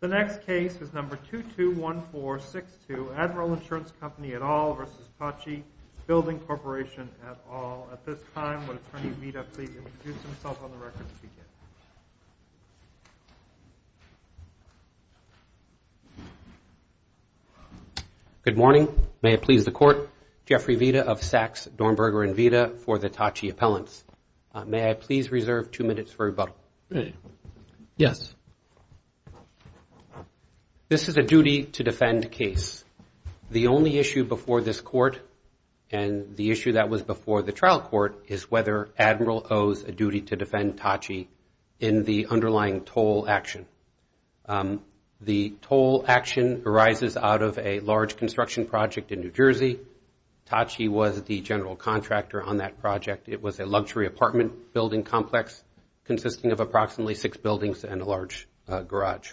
The next case is number 221462, Admiral Insurance Company et al. v. Tocci Building Corporation et al. At this time, would Attorney Vita please introduce himself on the record if he can? Good morning. May it please the Court, Jeffrey Vita of Sachs, Dornberger & Vita for the Tocci Appellants. May I please reserve two minutes for rebuttal? Yes. This is a duty to defend case. The only issue before this Court and the issue that was before the trial court is whether Admiral owes a duty to defend Tocci in the underlying toll action. The toll action arises out of a large construction project in New Jersey. Tocci was the general contractor on that project. It was a luxury apartment building complex consisting of approximately six buildings and a large garage.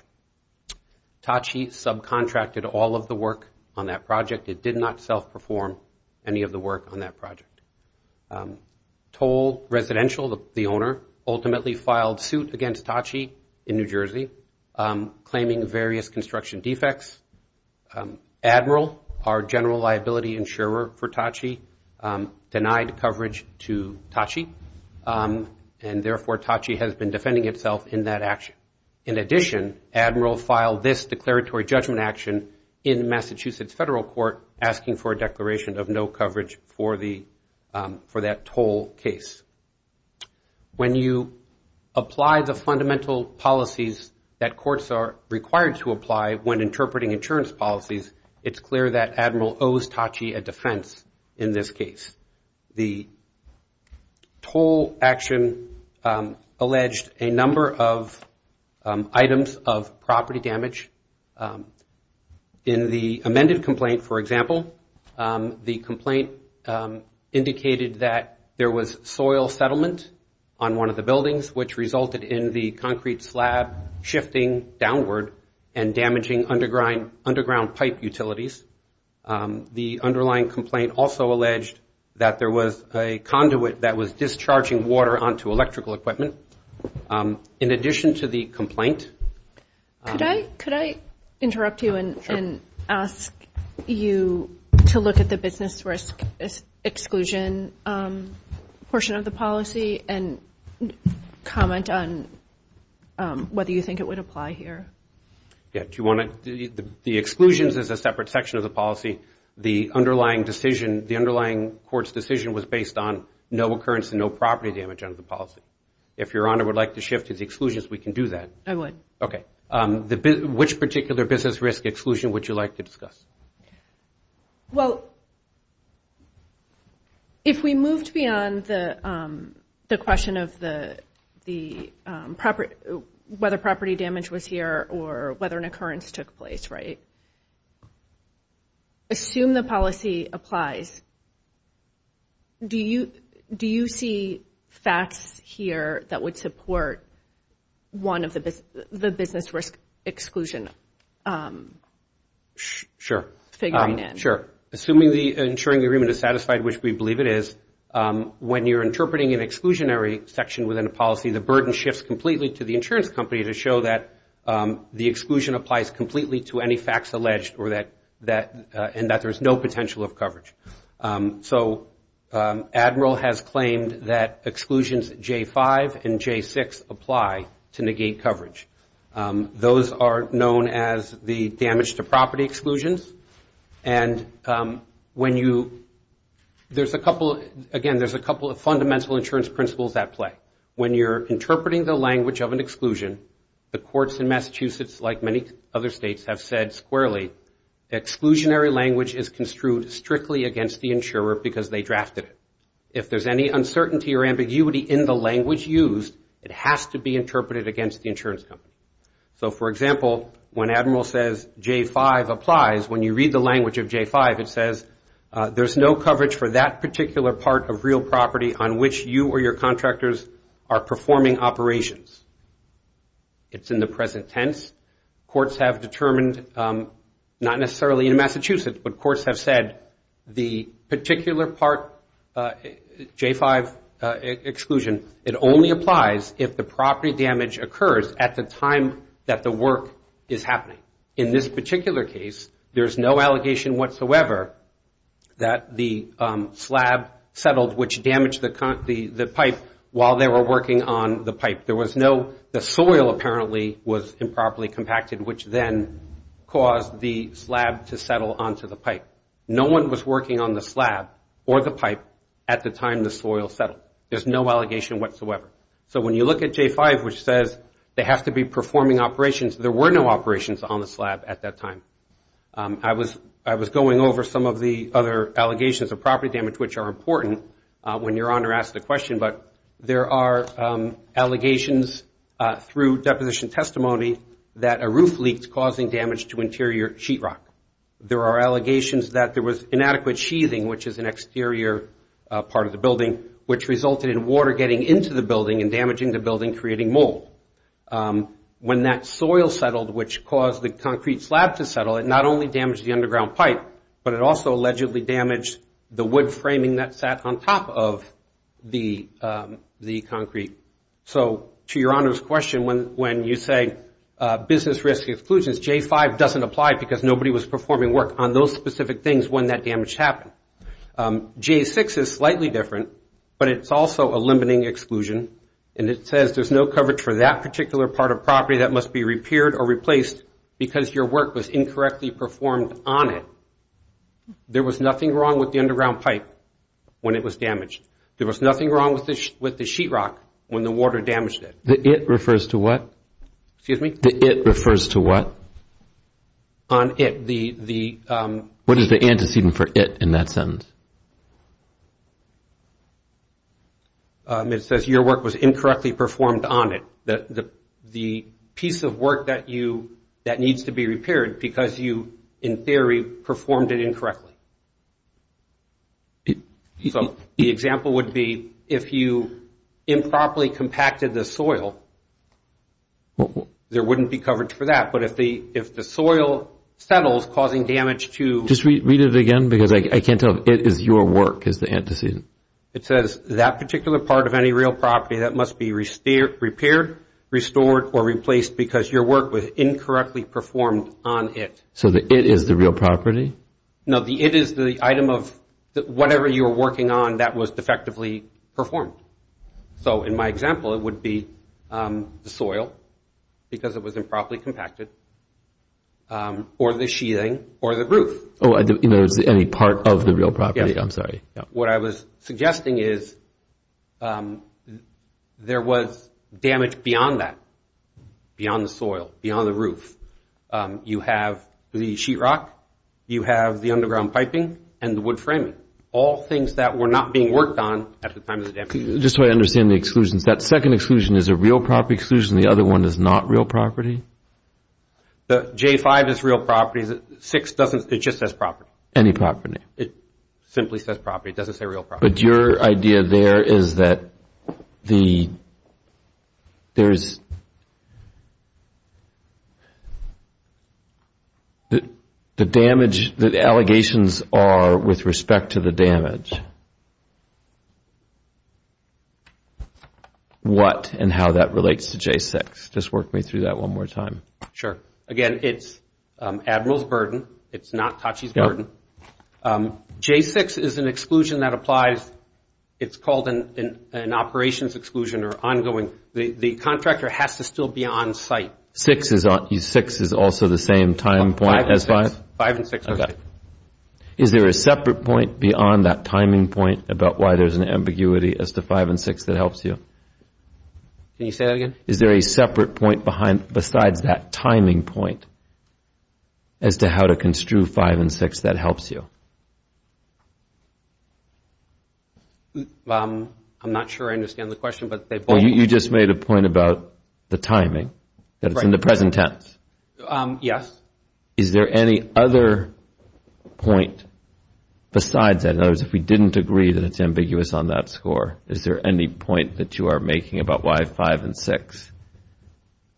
Tocci subcontracted all of the work on that project. It did not self-perform any of the work on that project. Toll Residential, the owner, ultimately filed suit against Tocci in New Jersey claiming various construction defects. Admiral, our general liability insurer for Tocci, denied coverage to Tocci and therefore Tocci has been defending itself in that action. In addition, Admiral filed this declaratory judgment action in Massachusetts Federal Court asking for a declaration of no coverage for that toll case. When you apply the fundamental policies that courts are required to apply when interpreting insurance policies, it's clear that Admiral owes Tocci a defense in this case. The toll action alleged a number of items of property damage. In the amended complaint, for example, the complaint indicated that there was soil settlement on one of the buildings which resulted in the concrete slab shifting downward and damaging underground pipe utilities. The underlying complaint also alleged that there was a conduit that was discharging water onto electrical equipment. In addition to the complaint... Could I interrupt you and ask you to look at the business risk exclusion portion of the policy and comment on whether you think it would apply here? The exclusions is a separate section of the policy. The underlying court's decision was based on no occurrence and no property damage under the policy. If Your Honor would like to shift to the exclusions, we can do that. I would. Okay. Which particular business risk exclusion would you like to discuss? Well, if we moved beyond the question of whether property damage was here or whether an occurrence took place, right? Assume the policy applies. Do you see facts here that would support one of the business risk exclusion? Sure. Figuring it. Sure. Assuming the insuring agreement is satisfied, which we believe it is, when you're interpreting an exclusionary section within a policy, the burden shifts completely to the insurance company to show that the exclusion applies completely to any facts alleged and that there's no potential of coverage. So Admiral has claimed that exclusions J-5 and J-6 apply to negate coverage. Those are known as the damage to property exclusions. And when you – there's a couple – again, there's a couple of fundamental insurance principles at play. When you're interpreting the language of an exclusion, the courts in Massachusetts, like many other states, have said squarely, exclusionary language is construed strictly against the insurer because they drafted it. If there's any uncertainty or ambiguity in the language used, it has to be interpreted against the insurance company. So, for example, when Admiral says J-5 applies, when you read the language of J-5, it says, there's no coverage for that particular part of real property on which you or your contractors are performing operations. It's in the present tense. Courts have determined, not necessarily in Massachusetts, but courts have said the particular part J-5 exclusion, it only applies if the property damage occurs at the time that the work is happening. In this particular case, there's no allegation whatsoever that the slab settled, which damaged the pipe, while they were working on the pipe. There was no, the soil apparently was improperly compacted, which then caused the slab to settle onto the pipe. No one was working on the slab or the pipe at the time the soil settled. There's no allegation whatsoever. So when you look at J-5, which says they have to be performing operations, there were no operations on the slab at that time. I was going over some of the other allegations of property damage, which are important when your Honor asks the question, but there are allegations through deposition testimony that a roof leaked, causing damage to interior sheetrock. There are allegations that there was inadequate sheathing, which is an exterior part of the building, which resulted in water getting into the building and damaging the building, creating mold. When that soil settled, which caused the concrete slab to settle, it not only damaged the underground pipe, but it also allegedly damaged the wood framing that sat on top of the concrete. So to your Honor's question, when you say business risk exclusions, J-5 doesn't apply because nobody was performing work on those specific things when that damage happened. J-6 is slightly different, but it's also a limiting exclusion, and it says there's no coverage for that particular part of property that must be repaired or replaced because your work was incorrectly performed on it. There was nothing wrong with the underground pipe when it was damaged. There was nothing wrong with the sheetrock when the water damaged it. The it refers to what? Excuse me? The it refers to what? On it. What is the antecedent for it in that sentence? It says your work was incorrectly performed on it. So the piece of work that needs to be repaired because you, in theory, performed it incorrectly. So the example would be if you improperly compacted the soil, there wouldn't be coverage for that. But if the soil settles, causing damage to? Just read it again because I can't tell if it is your work is the antecedent. It says that particular part of any real property that must be repaired, restored, or replaced because your work was incorrectly performed on it. So the it is the real property? No, the it is the item of whatever you were working on that was defectively performed. So in my example, it would be the soil because it was improperly compacted, or the sheathing, or the roof. Oh, in other words, any part of the real property. Yes. What I was suggesting is there was damage beyond that, beyond the soil, beyond the roof. You have the sheetrock. You have the underground piping and the wood framing, all things that were not being worked on at the time of the damage. Just so I understand the exclusions, that second exclusion is a real property exclusion and the other one is not real property? The J5 is real property. The 6 doesn't, it just says property. Any property? It simply says property. It doesn't say real property. But your idea there is that the damage, the allegations are with respect to the damage. What and how that relates to J6? Just work me through that one more time. Sure. Again, it's Admiral's burden. It's not Tachi's burden. J6 is an exclusion that applies. It's called an operations exclusion or ongoing. The contractor has to still be on site. 6 is also the same time point as 5? 5 and 6 are the same. Is there a separate point beyond that timing point about why there's an ambiguity as to 5 and 6 that helps you? Can you say that again? Is there a separate point besides that timing point as to how to construe 5 and 6 that helps you? I'm not sure I understand the question. You just made a point about the timing, that it's in the present tense. Yes. Is there any other point besides that? In other words, if we didn't agree that it's ambiguous on that score, is there any point that you are making about why 5 and 6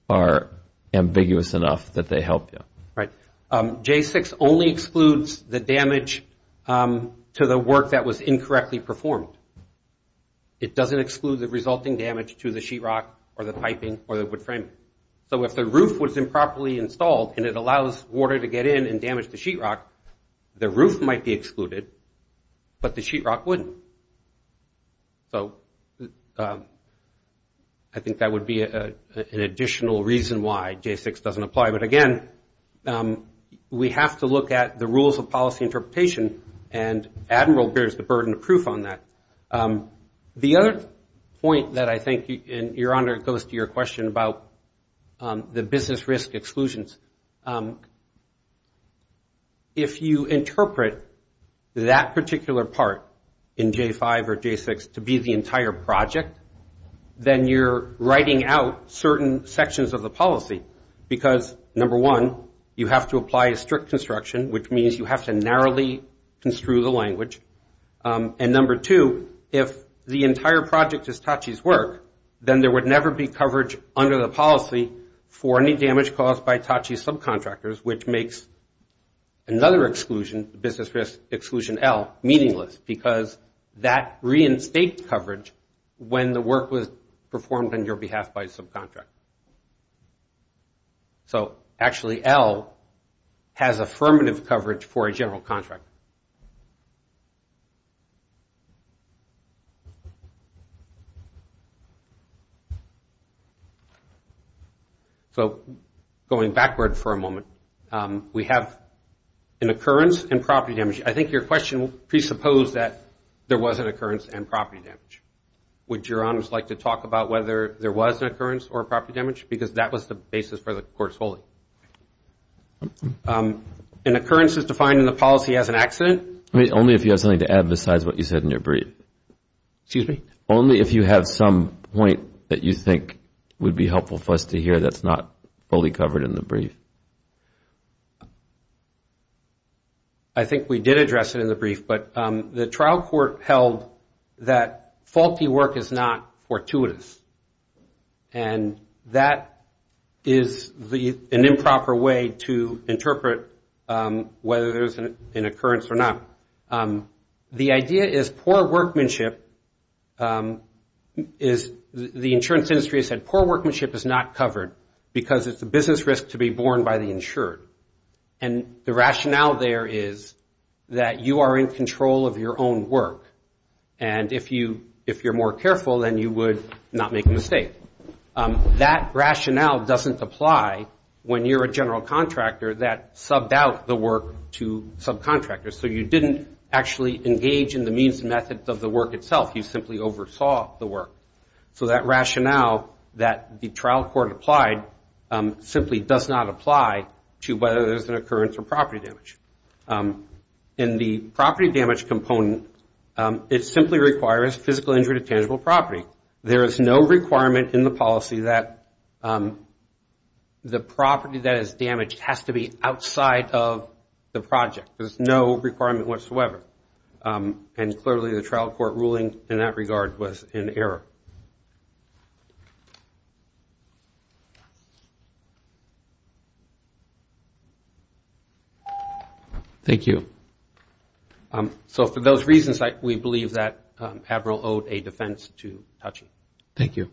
are ambiguous enough that they help you? Right. J6 only excludes the damage to the work that was incorrectly performed. It doesn't exclude the resulting damage to the sheetrock or the piping or the wood framing. So if the roof was improperly installed and it allows water to get in and damage the sheetrock, the roof might be excluded, but the sheetrock wouldn't. So I think that would be an additional reason why J6 doesn't apply. But, again, we have to look at the rules of policy interpretation, and Admiral bears the burden of proof on that. The other point that I think, Your Honor, goes to your question about the business risk exclusions, if you interpret that particular part in J5 or J6 to be the entire project, then you're writing out certain sections of the policy because, number one, you have to apply a strict construction, which means you have to narrowly construe the language, and, number two, if the entire project is TACI's work, then there would never be coverage under the policy for any damage caused by TACI subcontractors, which makes another exclusion, business risk exclusion L, meaningless because that reinstates coverage when the work was performed on your behalf by a subcontractor. So, actually, L has affirmative coverage for a general contractor. So, going backward for a moment, we have an occurrence and property damage. I think your question presupposed that there was an occurrence and property damage. Would Your Honors like to talk about whether there was an occurrence or a property damage? Because that was the basis for the court's holding. An occurrence is defined in the policy as an accident. Only if you have something to add besides what you said in your brief. Excuse me? Only if you have some point that you think would be helpful for us to hear that's not fully covered in the brief. I think we did address it in the brief, but the trial court held that faulty work is not fortuitous. And that is an improper way to interpret whether there's an occurrence or not. The idea is poor workmanship is, the insurance industry has said, And the rationale there is that you are in control of your own work. And if you're more careful, then you would not make a mistake. That rationale doesn't apply when you're a general contractor that subbed out the work to subcontractors. So you didn't actually engage in the means and methods of the work itself. You simply oversaw the work. So that rationale that the trial court applied simply does not apply to whether there's an occurrence or property damage. In the property damage component, it simply requires physical injury to tangible property. There is no requirement in the policy that the property that is damaged has to be outside of the project. There's no requirement whatsoever. And clearly the trial court ruling in that regard was in error. Thank you. So for those reasons, we believe that Admiral owed a defense to Hutchin. Thank you.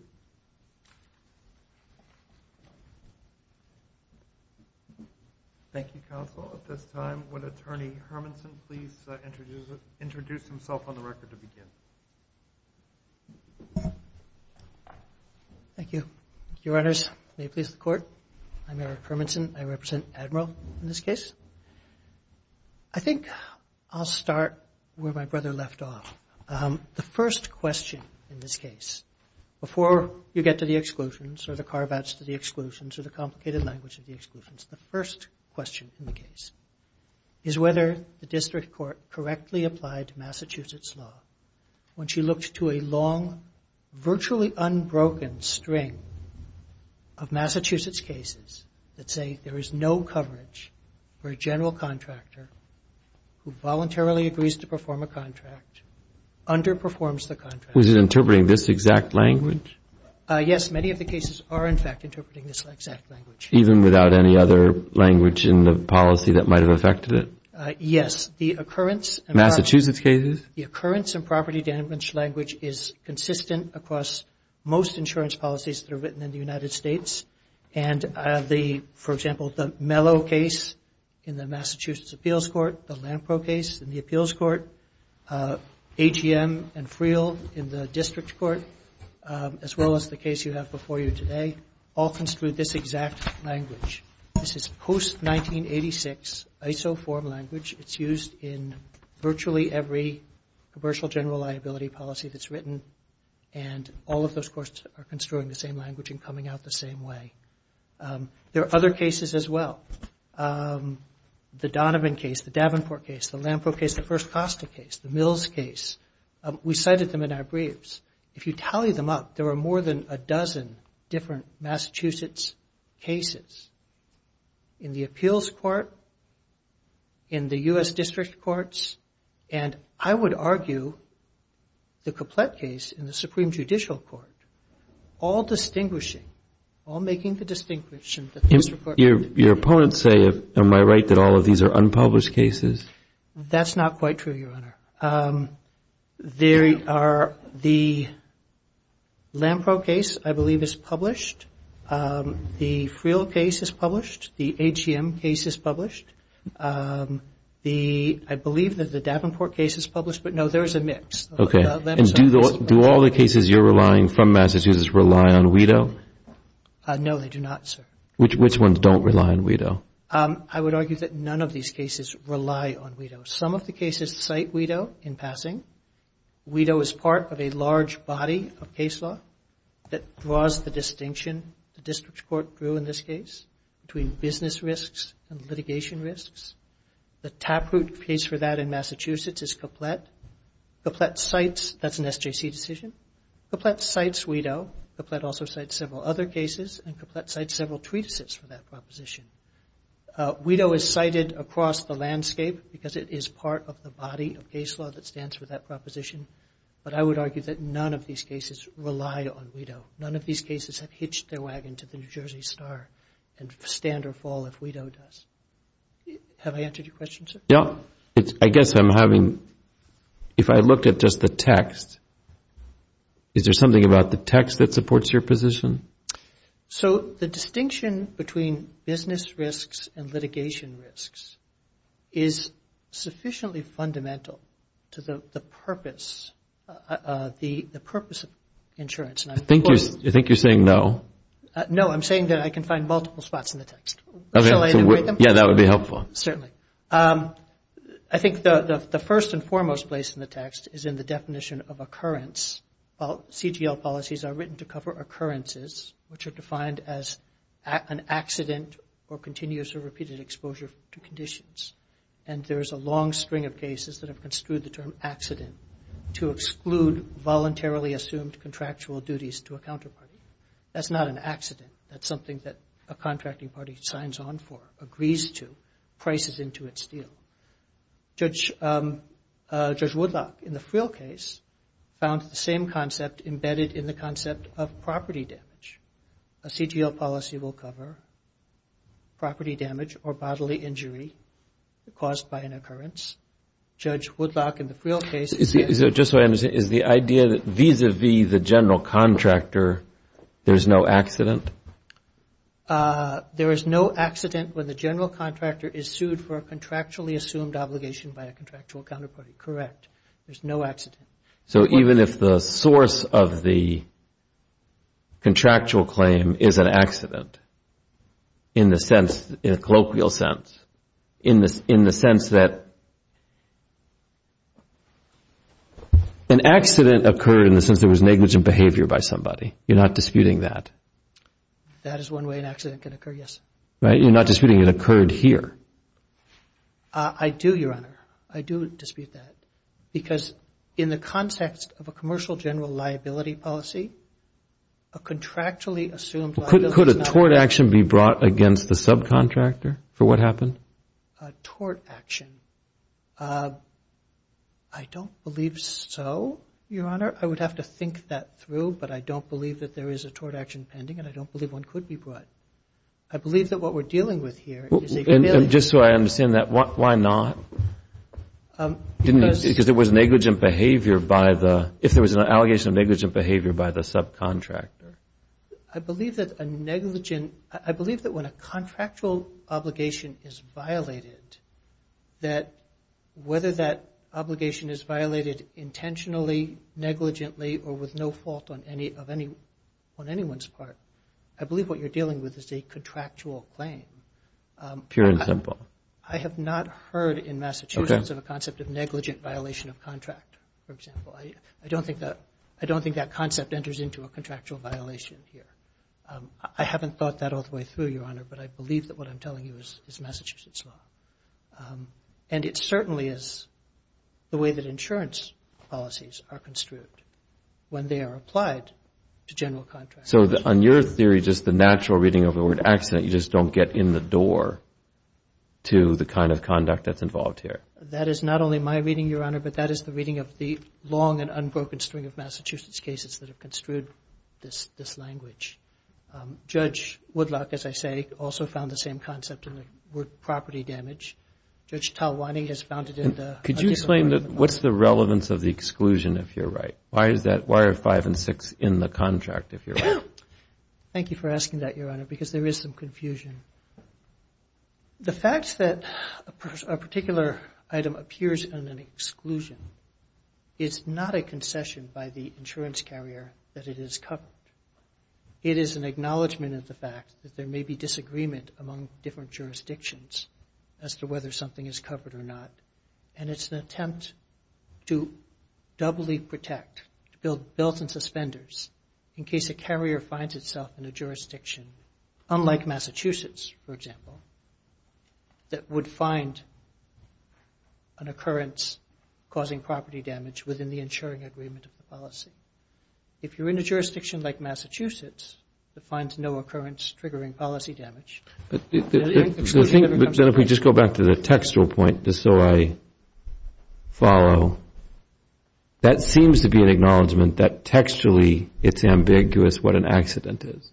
Thank you, Counsel. At this time, would Attorney Hermanson please introduce himself on the record to begin? Thank you. Your Honors, may it please the Court, I'm Eric Hermanson. I represent Admiral in this case. I think I'll start where my brother left off. The first question in this case, before you get to the exclusions or the carve-outs to the exclusions or the complicated language of the exclusions, the first question in the case is whether the District Court correctly applied to Massachusetts law when she looked to a long, virtually unbroken string of Massachusetts cases that say there is no coverage for a general contractor who voluntarily agrees to perform a contract, underperforms the contract. Was it interpreting this exact language? Yes. Many of the cases are, in fact, interpreting this exact language. Even without any other language in the policy that might have affected it? Yes. The occurrence and property damage language is consistent across most insurance policies that are written in the United States. And the, for example, the Mello case in the Massachusetts Appeals Court, the Lampro case in the Appeals Court, AGM and Friel in the District Court, as well as the case you have before you today, all construed this exact language. This is post-1986 ISO form language. It's used in virtually every commercial general liability policy that's written. And all of those courts are construing the same language and coming out the same way. There are other cases as well. The Donovan case, the Davenport case, the Lampro case, the First Costa case, the Mills case. We cited them in our briefs. If you tally them up, there are more than a dozen different Massachusetts cases. In the Appeals Court, in the U.S. District Courts, and I would argue the Couplet case in the Supreme Judicial Court, all distinguishing, all making the distinction. Your opponents say, am I right, that all of these are unpublished cases? That's not quite true, Your Honor. There are the Lampro case, I believe, is published. The Freel case is published. The AGM case is published. I believe that the Davenport case is published, but no, there is a mix. Do all the cases you're relying from Massachusetts rely on WIDO? No, they do not, sir. Which ones don't rely on WIDO? I would argue that none of these cases rely on WIDO. Some of the cases cite WIDO in passing. WIDO is part of a large body of case law that draws the distinction the District Court drew in this case, between business risks and litigation risks. The taproot case for that in Massachusetts is Couplet. Couplet cites, that's an SJC decision. Couplet cites WIDO. Couplet also cites several other cases, and Couplet cites several treatises for that proposition. WIDO is cited across the landscape because it is part of the body of case law that stands for that proposition, but I would argue that none of these cases rely on WIDO. None of these cases have hitched their wagon to the New Jersey Star and stand or fall if WIDO does. I guess I'm having, if I look at just the text, is there something about the text that supports your position? So the distinction between business risks and litigation risks is sufficiently fundamental to the purpose of insurance. I think you're saying no. No, I'm saying that I can find multiple spots in the text. I think the first and foremost place in the text is in the definition of occurrence. While CGL policies are written to cover occurrences, which are defined as an accident or continuous or repeated exposure to conditions, and there is a long string of cases that have construed the term accident to exclude voluntarily assumed contractual duties to a counterparty. That's not an accident. That's something that a contracting party signs on for, agrees to, prices into its deal. Judge Woodlock in the Friel case found the same concept embedded in the concept of property damage. A CGL policy will cover property damage or bodily injury caused by an occurrence. Judge Woodlock in the Friel case... There is no accident when the general contractor is sued for a contractually assumed obligation by a contractual counterparty. Correct. There's no accident. So even if the source of the contractual claim is an accident, in the sense, in a colloquial sense, in the sense that an accident occurred in the sense there was negligent behavior by somebody. You're not disputing that. That is one way an accident can occur, yes. You're not disputing it occurred here. I do, Your Honor. I do dispute that. Because in the context of a commercial general liability policy, a contractually assumed liability... Could a tort action be brought against the subcontractor for what happened? A tort action. I don't believe so, Your Honor. I would have to think that through, but I don't believe that there is a tort action pending and I don't believe one could be brought. I believe that what we're dealing with here is a... And just so I understand that, why not? Because it was negligent behavior by the... It was violated, that whether that obligation is violated intentionally, negligently, or with no fault on anyone's part, I believe what you're dealing with is a contractual claim. Pure and simple. I have not heard in Massachusetts of a concept of negligent violation of contract, for example. I don't think that concept enters into a contractual violation here. I haven't thought that all the way through, Your Honor, but I believe that what I'm telling you is Massachusetts law. And it certainly is the way that insurance policies are construed, when they are applied to general contracts. So on your theory, just the natural reading of the word accident, you just don't get in the door to the kind of conduct that's involved here? That is not only my reading, Your Honor, but that is the reading of the long and unbroken string of Massachusetts cases that have construed this language. Judge Woodlock, as I say, also found the same concept in the word property damage. Judge Talwani has found it in the... Could you explain what's the relevance of the exclusion, if you're right? Why are five and six in the contract, if you're right? Thank you for asking that, Your Honor, because there is some confusion. The fact that a particular item appears in an exclusion is not a concession by the insurance carrier that it is covered. It is an acknowledgment of the fact that there may be disagreement among different jurisdictions as to whether something is covered or not. And it's an attempt to doubly protect, to build belts and suspenders in case a carrier finds itself in a jurisdiction, unlike Massachusetts, for example, that would find an occurrence causing property damage within the insuring agreement of the policy. If you're in a jurisdiction like Massachusetts that finds no occurrence triggering policy damage... Then if we just go back to the textual point, just so I follow, that seems to be an acknowledgment that textually it's ambiguous what an accident is.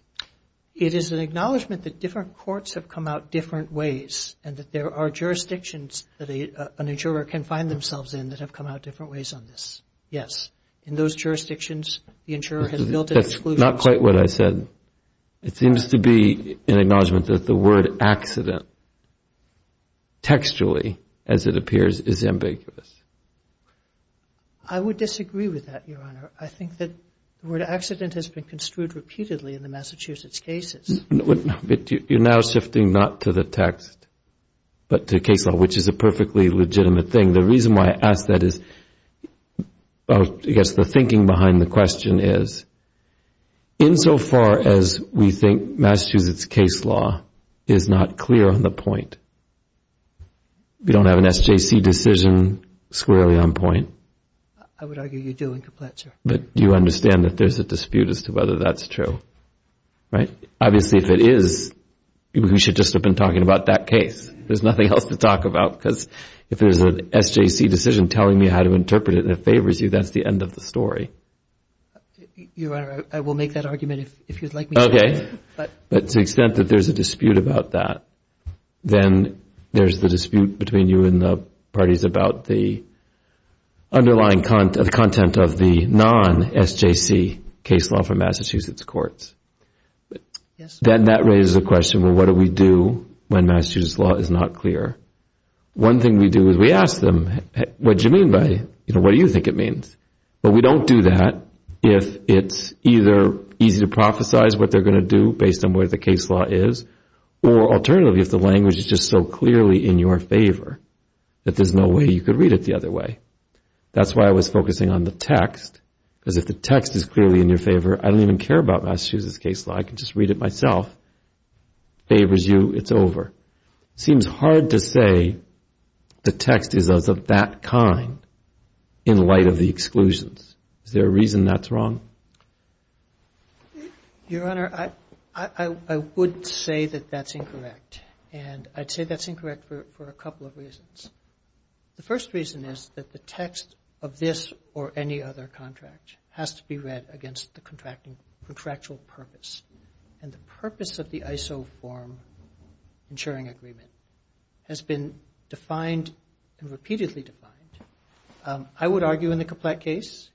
It is an acknowledgment that different courts have come out different ways and that there are jurisdictions that an insurer can find themselves in that have come out different ways on this. Yes. In those jurisdictions, the insurer has built an exclusion... That's not quite what I said. It seems to be an acknowledgment that the word accident, textually, as it appears, is ambiguous. I would disagree with that, Your Honor. I think that the word accident has been construed repeatedly in the Massachusetts cases. You're now shifting not to the text, but to case law, which is a perfectly legitimate thing. The reason why I ask that is, I guess the thinking behind the question is, insofar as we think Massachusetts case law is not clear on the point, we don't have an SJC decision. I would argue you do in complete, sir. But you understand that there's a dispute as to whether that's true, right? Obviously, if it is, we should just have been talking about that case. There's nothing else to talk about, because if there's an SJC decision telling me how to interpret it and it favors you, that's the end of the story. Your Honor, I will make that argument if you'd like me to. Okay. But to the extent that there's a dispute about that, then there's the dispute between you and the parties about the underlying content of the non-SJC case law for Massachusetts courts. Then that raises the question, well, what do we do when Massachusetts law is not clear? One thing we do is we ask them, what do you mean by it? What do you think it means? But we don't do that if it's either easy to prophesize what they're going to do based on where the case law is, or alternatively, if the language is just so clearly in your favor that there's no way you could read it the other way. That's why I was focusing on the text, because if the text is clearly in your favor, I don't even care about Massachusetts case law. I can just read it myself. Favors you, it's over. It seems hard to say the text is of that kind in light of the exclusions. Is there a reason that's wrong? Your Honor, I would say that that's incorrect, and I'd say that's incorrect for a couple of reasons. The first reason is that the text of this or any other contract has to be read against the contractual purpose. And the purpose of the ISO form insuring agreement has been defined and repeatedly defined. I would argue in the Kaplett case,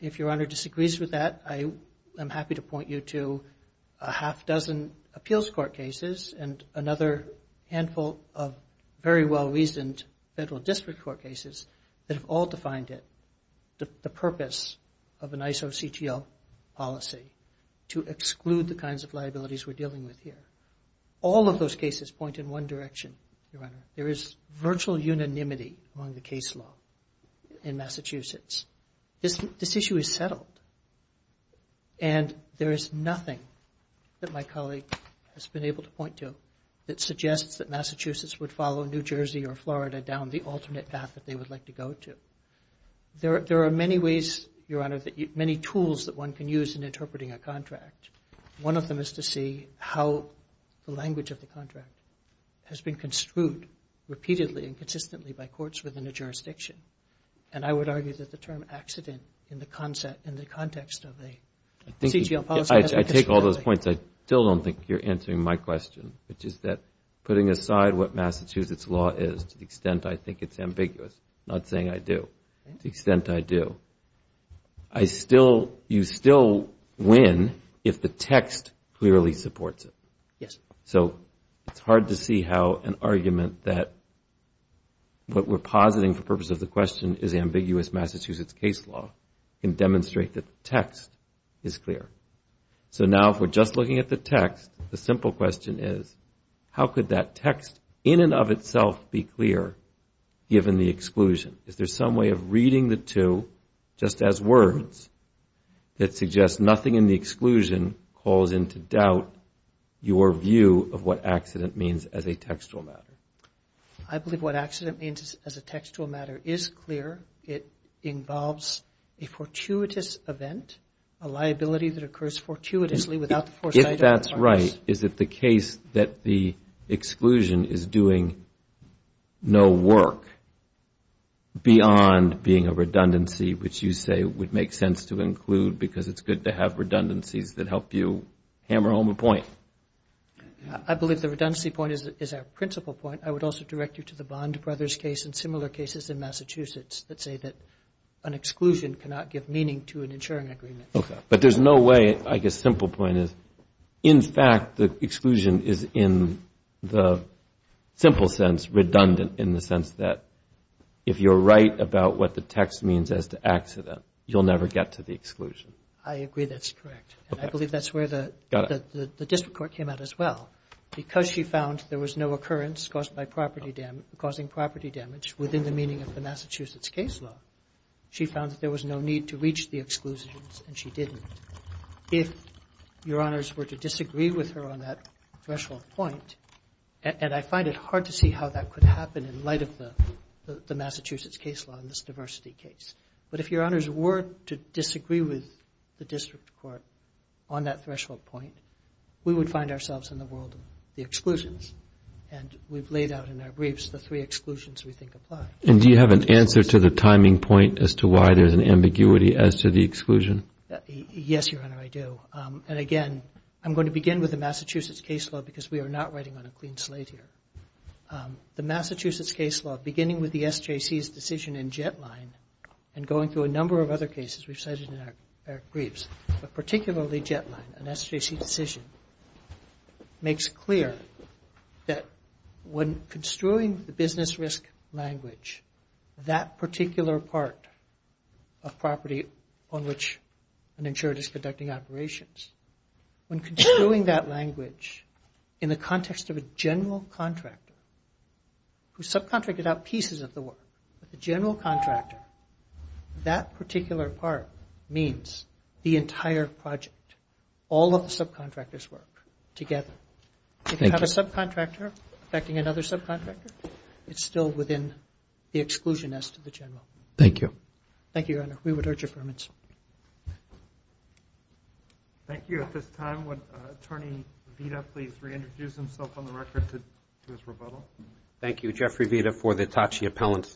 if Your Honor disagrees with that, I am happy to point you to a half dozen appeals court cases and another handful of very well-reasoned federal district court cases that have all defined it. The purpose of an ISO CTL policy to exclude the kinds of liabilities we're dealing with here. All of those cases point in one direction, Your Honor. There is virtual unanimity among the case law in Massachusetts. This issue is settled, and there is nothing that my colleague has been able to point to that suggests that Massachusetts would follow New Jersey or Florida down the alternate path that they would like to go to. There are many ways, Your Honor, many tools that one can use in interpreting a contract. One of them is to see how the language of the contract has been construed repeatedly and consistently by courts within a jurisdiction. And I would argue that the term accident in the context of a CTL policy has been constructed. I take all those points. I still don't think you're answering my question, which is that putting aside what Massachusetts law is, to the extent I think it's ambiguous, not saying I do. To the extent I do, you still win if the text clearly supports it. So it's hard to see how an argument that what we're positing for the purpose of the question is ambiguous Massachusetts case law can demonstrate that the text is clear. So now if we're just looking at the text, the simple question is how could that text in and of itself be clear given the exclusion? Is there some way of reading the two just as words that suggest nothing in the exclusion calls into doubt your view of what accident means as a textual matter? I believe what accident means as a textual matter is clear. It involves a fortuitous event, a liability that occurs fortuitously without the foresight of the parties. Is it the case that the exclusion is doing no work beyond being a redundancy, which you say would make sense to include because it's good to have redundancies that help you hammer home a point? I believe the redundancy point is our principal point. I would also direct you to the Bond Brothers case and similar cases in Massachusetts that say that an exclusion cannot give meaning to an insuring agreement. But there's no way, I guess, simple point is in fact the exclusion is in the simple sense redundant in the sense that if you're right about what the text means as to accident, you'll never get to the exclusion. I agree that's correct. And I believe that's where the district court came out as well. Because she found there was no occurrence caused by property damage, causing property damage within the meaning of the Massachusetts case law, she found that there was no need to reach the exclusions. And she didn't. If Your Honors were to disagree with her on that threshold point, and I find it hard to see how that could happen in light of the Massachusetts case law and this diversity case. But if Your Honors were to disagree with the district court on that threshold point, we would find ourselves in the world of the exclusions. And we've laid out in our briefs the three exclusions we think apply. And do you have an answer to the timing point as to why there's an ambiguity as to the exclusion? Yes, Your Honor, I do. And again, I'm going to begin with the Massachusetts case law because we are not writing on a clean slate here. The Massachusetts case law, beginning with the SJC's decision in JetLine and going through a number of other cases we've cited in our briefs, but particularly JetLine, an SJC decision, makes clear that when construing the business risk language, that particular part of property on which an insured is conducting operations, when construing that language in the context of a general contractor who subcontracted out pieces of the work, the general contractor, that particular part means the entire project, all of the subcontractors' work together. If you have a subcontractor affecting another subcontractor, it's still within the exclusion as to the general. Thank you. Thank you, Your Honor. We would urge your permits. Thank you. At this time, would Attorney Vita please reintroduce himself on the record to his rebuttal? Thank you, Jeffrey Vita, for the TACI appellants.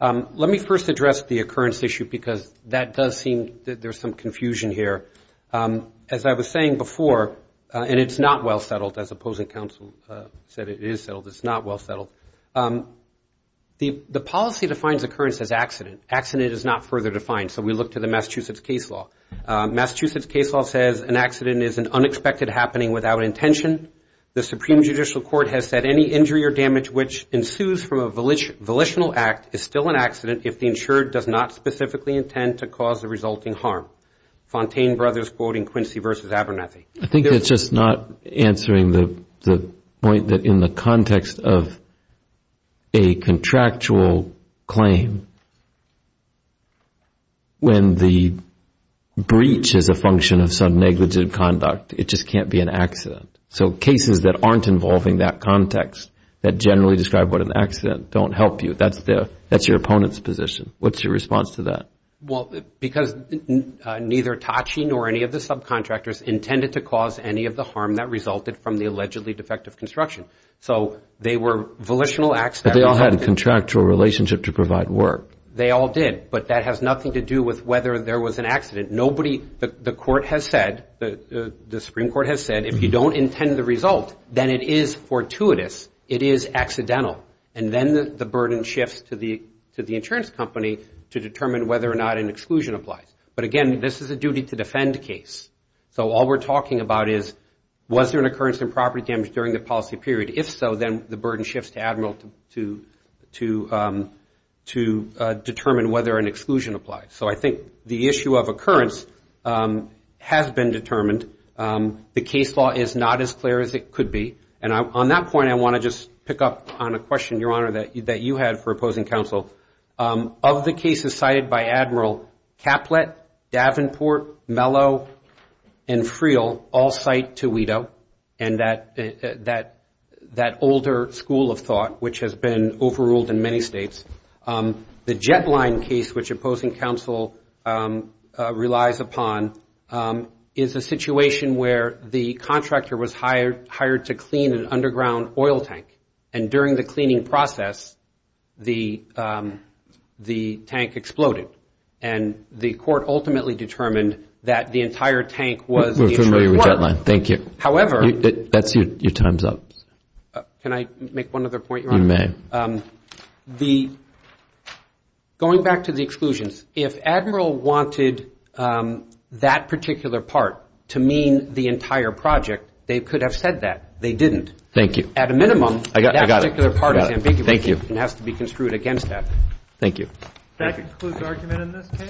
Let me first address the occurrence issue because that does seem that there's some confusion here. As I was saying before, and it's not well settled, as opposing counsel said it is settled, it's not well settled. The policy defines occurrence as accident. Accident is not further defined, so we look to the Massachusetts case law. Massachusetts case law says an accident is an unexpected happening without intention. The Supreme Judicial Court has said any injury or damage to the property of the property is an accident. Any damage which ensues from a volitional act is still an accident if the insured does not specifically intend to cause the resulting harm. Fontaine Brothers quoting Quincy v. Abernathy. I think it's just not answering the point that in the context of a contractual claim, when the breach is a function of some negligent conduct, it just can't be an accident, so cases that aren't involving that context, that don't generally describe what an accident, don't help you. That's your opponent's position. What's your response to that? Well, because neither TACI nor any of the subcontractors intended to cause any of the harm that resulted from the allegedly defective construction. So they were volitional acts. But they all had a contractual relationship to provide work. They all did. But that has nothing to do with whether there was an accident. The Supreme Court has said if you don't intend the result, then it is fortuitous. It is accidental. And then the burden shifts to the insurance company to determine whether or not an exclusion applies. But again, this is a duty to defend case. So all we're talking about is was there an occurrence of property damage during the policy period? If so, then the burden shifts to Admiral to determine whether an exclusion applies. So I think the issue of occurrence has been determined. The case law is not as clear as it could be. And on that point, I want to just pick up on a question, Your Honor, that you had for opposing counsel. Of the cases cited by Admiral, Caplet, Davenport, Mello, and Friel all cite Tweedo. And that older school of thought, which has been overruled in many states. The Jetline case, which opposing counsel relies upon, is a situation where the contractor was hired to clean an underground oil tank. And during the cleaning process, the tank exploded. And the court ultimately determined that the entire tank was the insurance. However, that's your time's up. Going back to the exclusions, if Admiral wanted that particular part to mean the entire project, they could have said that. They didn't.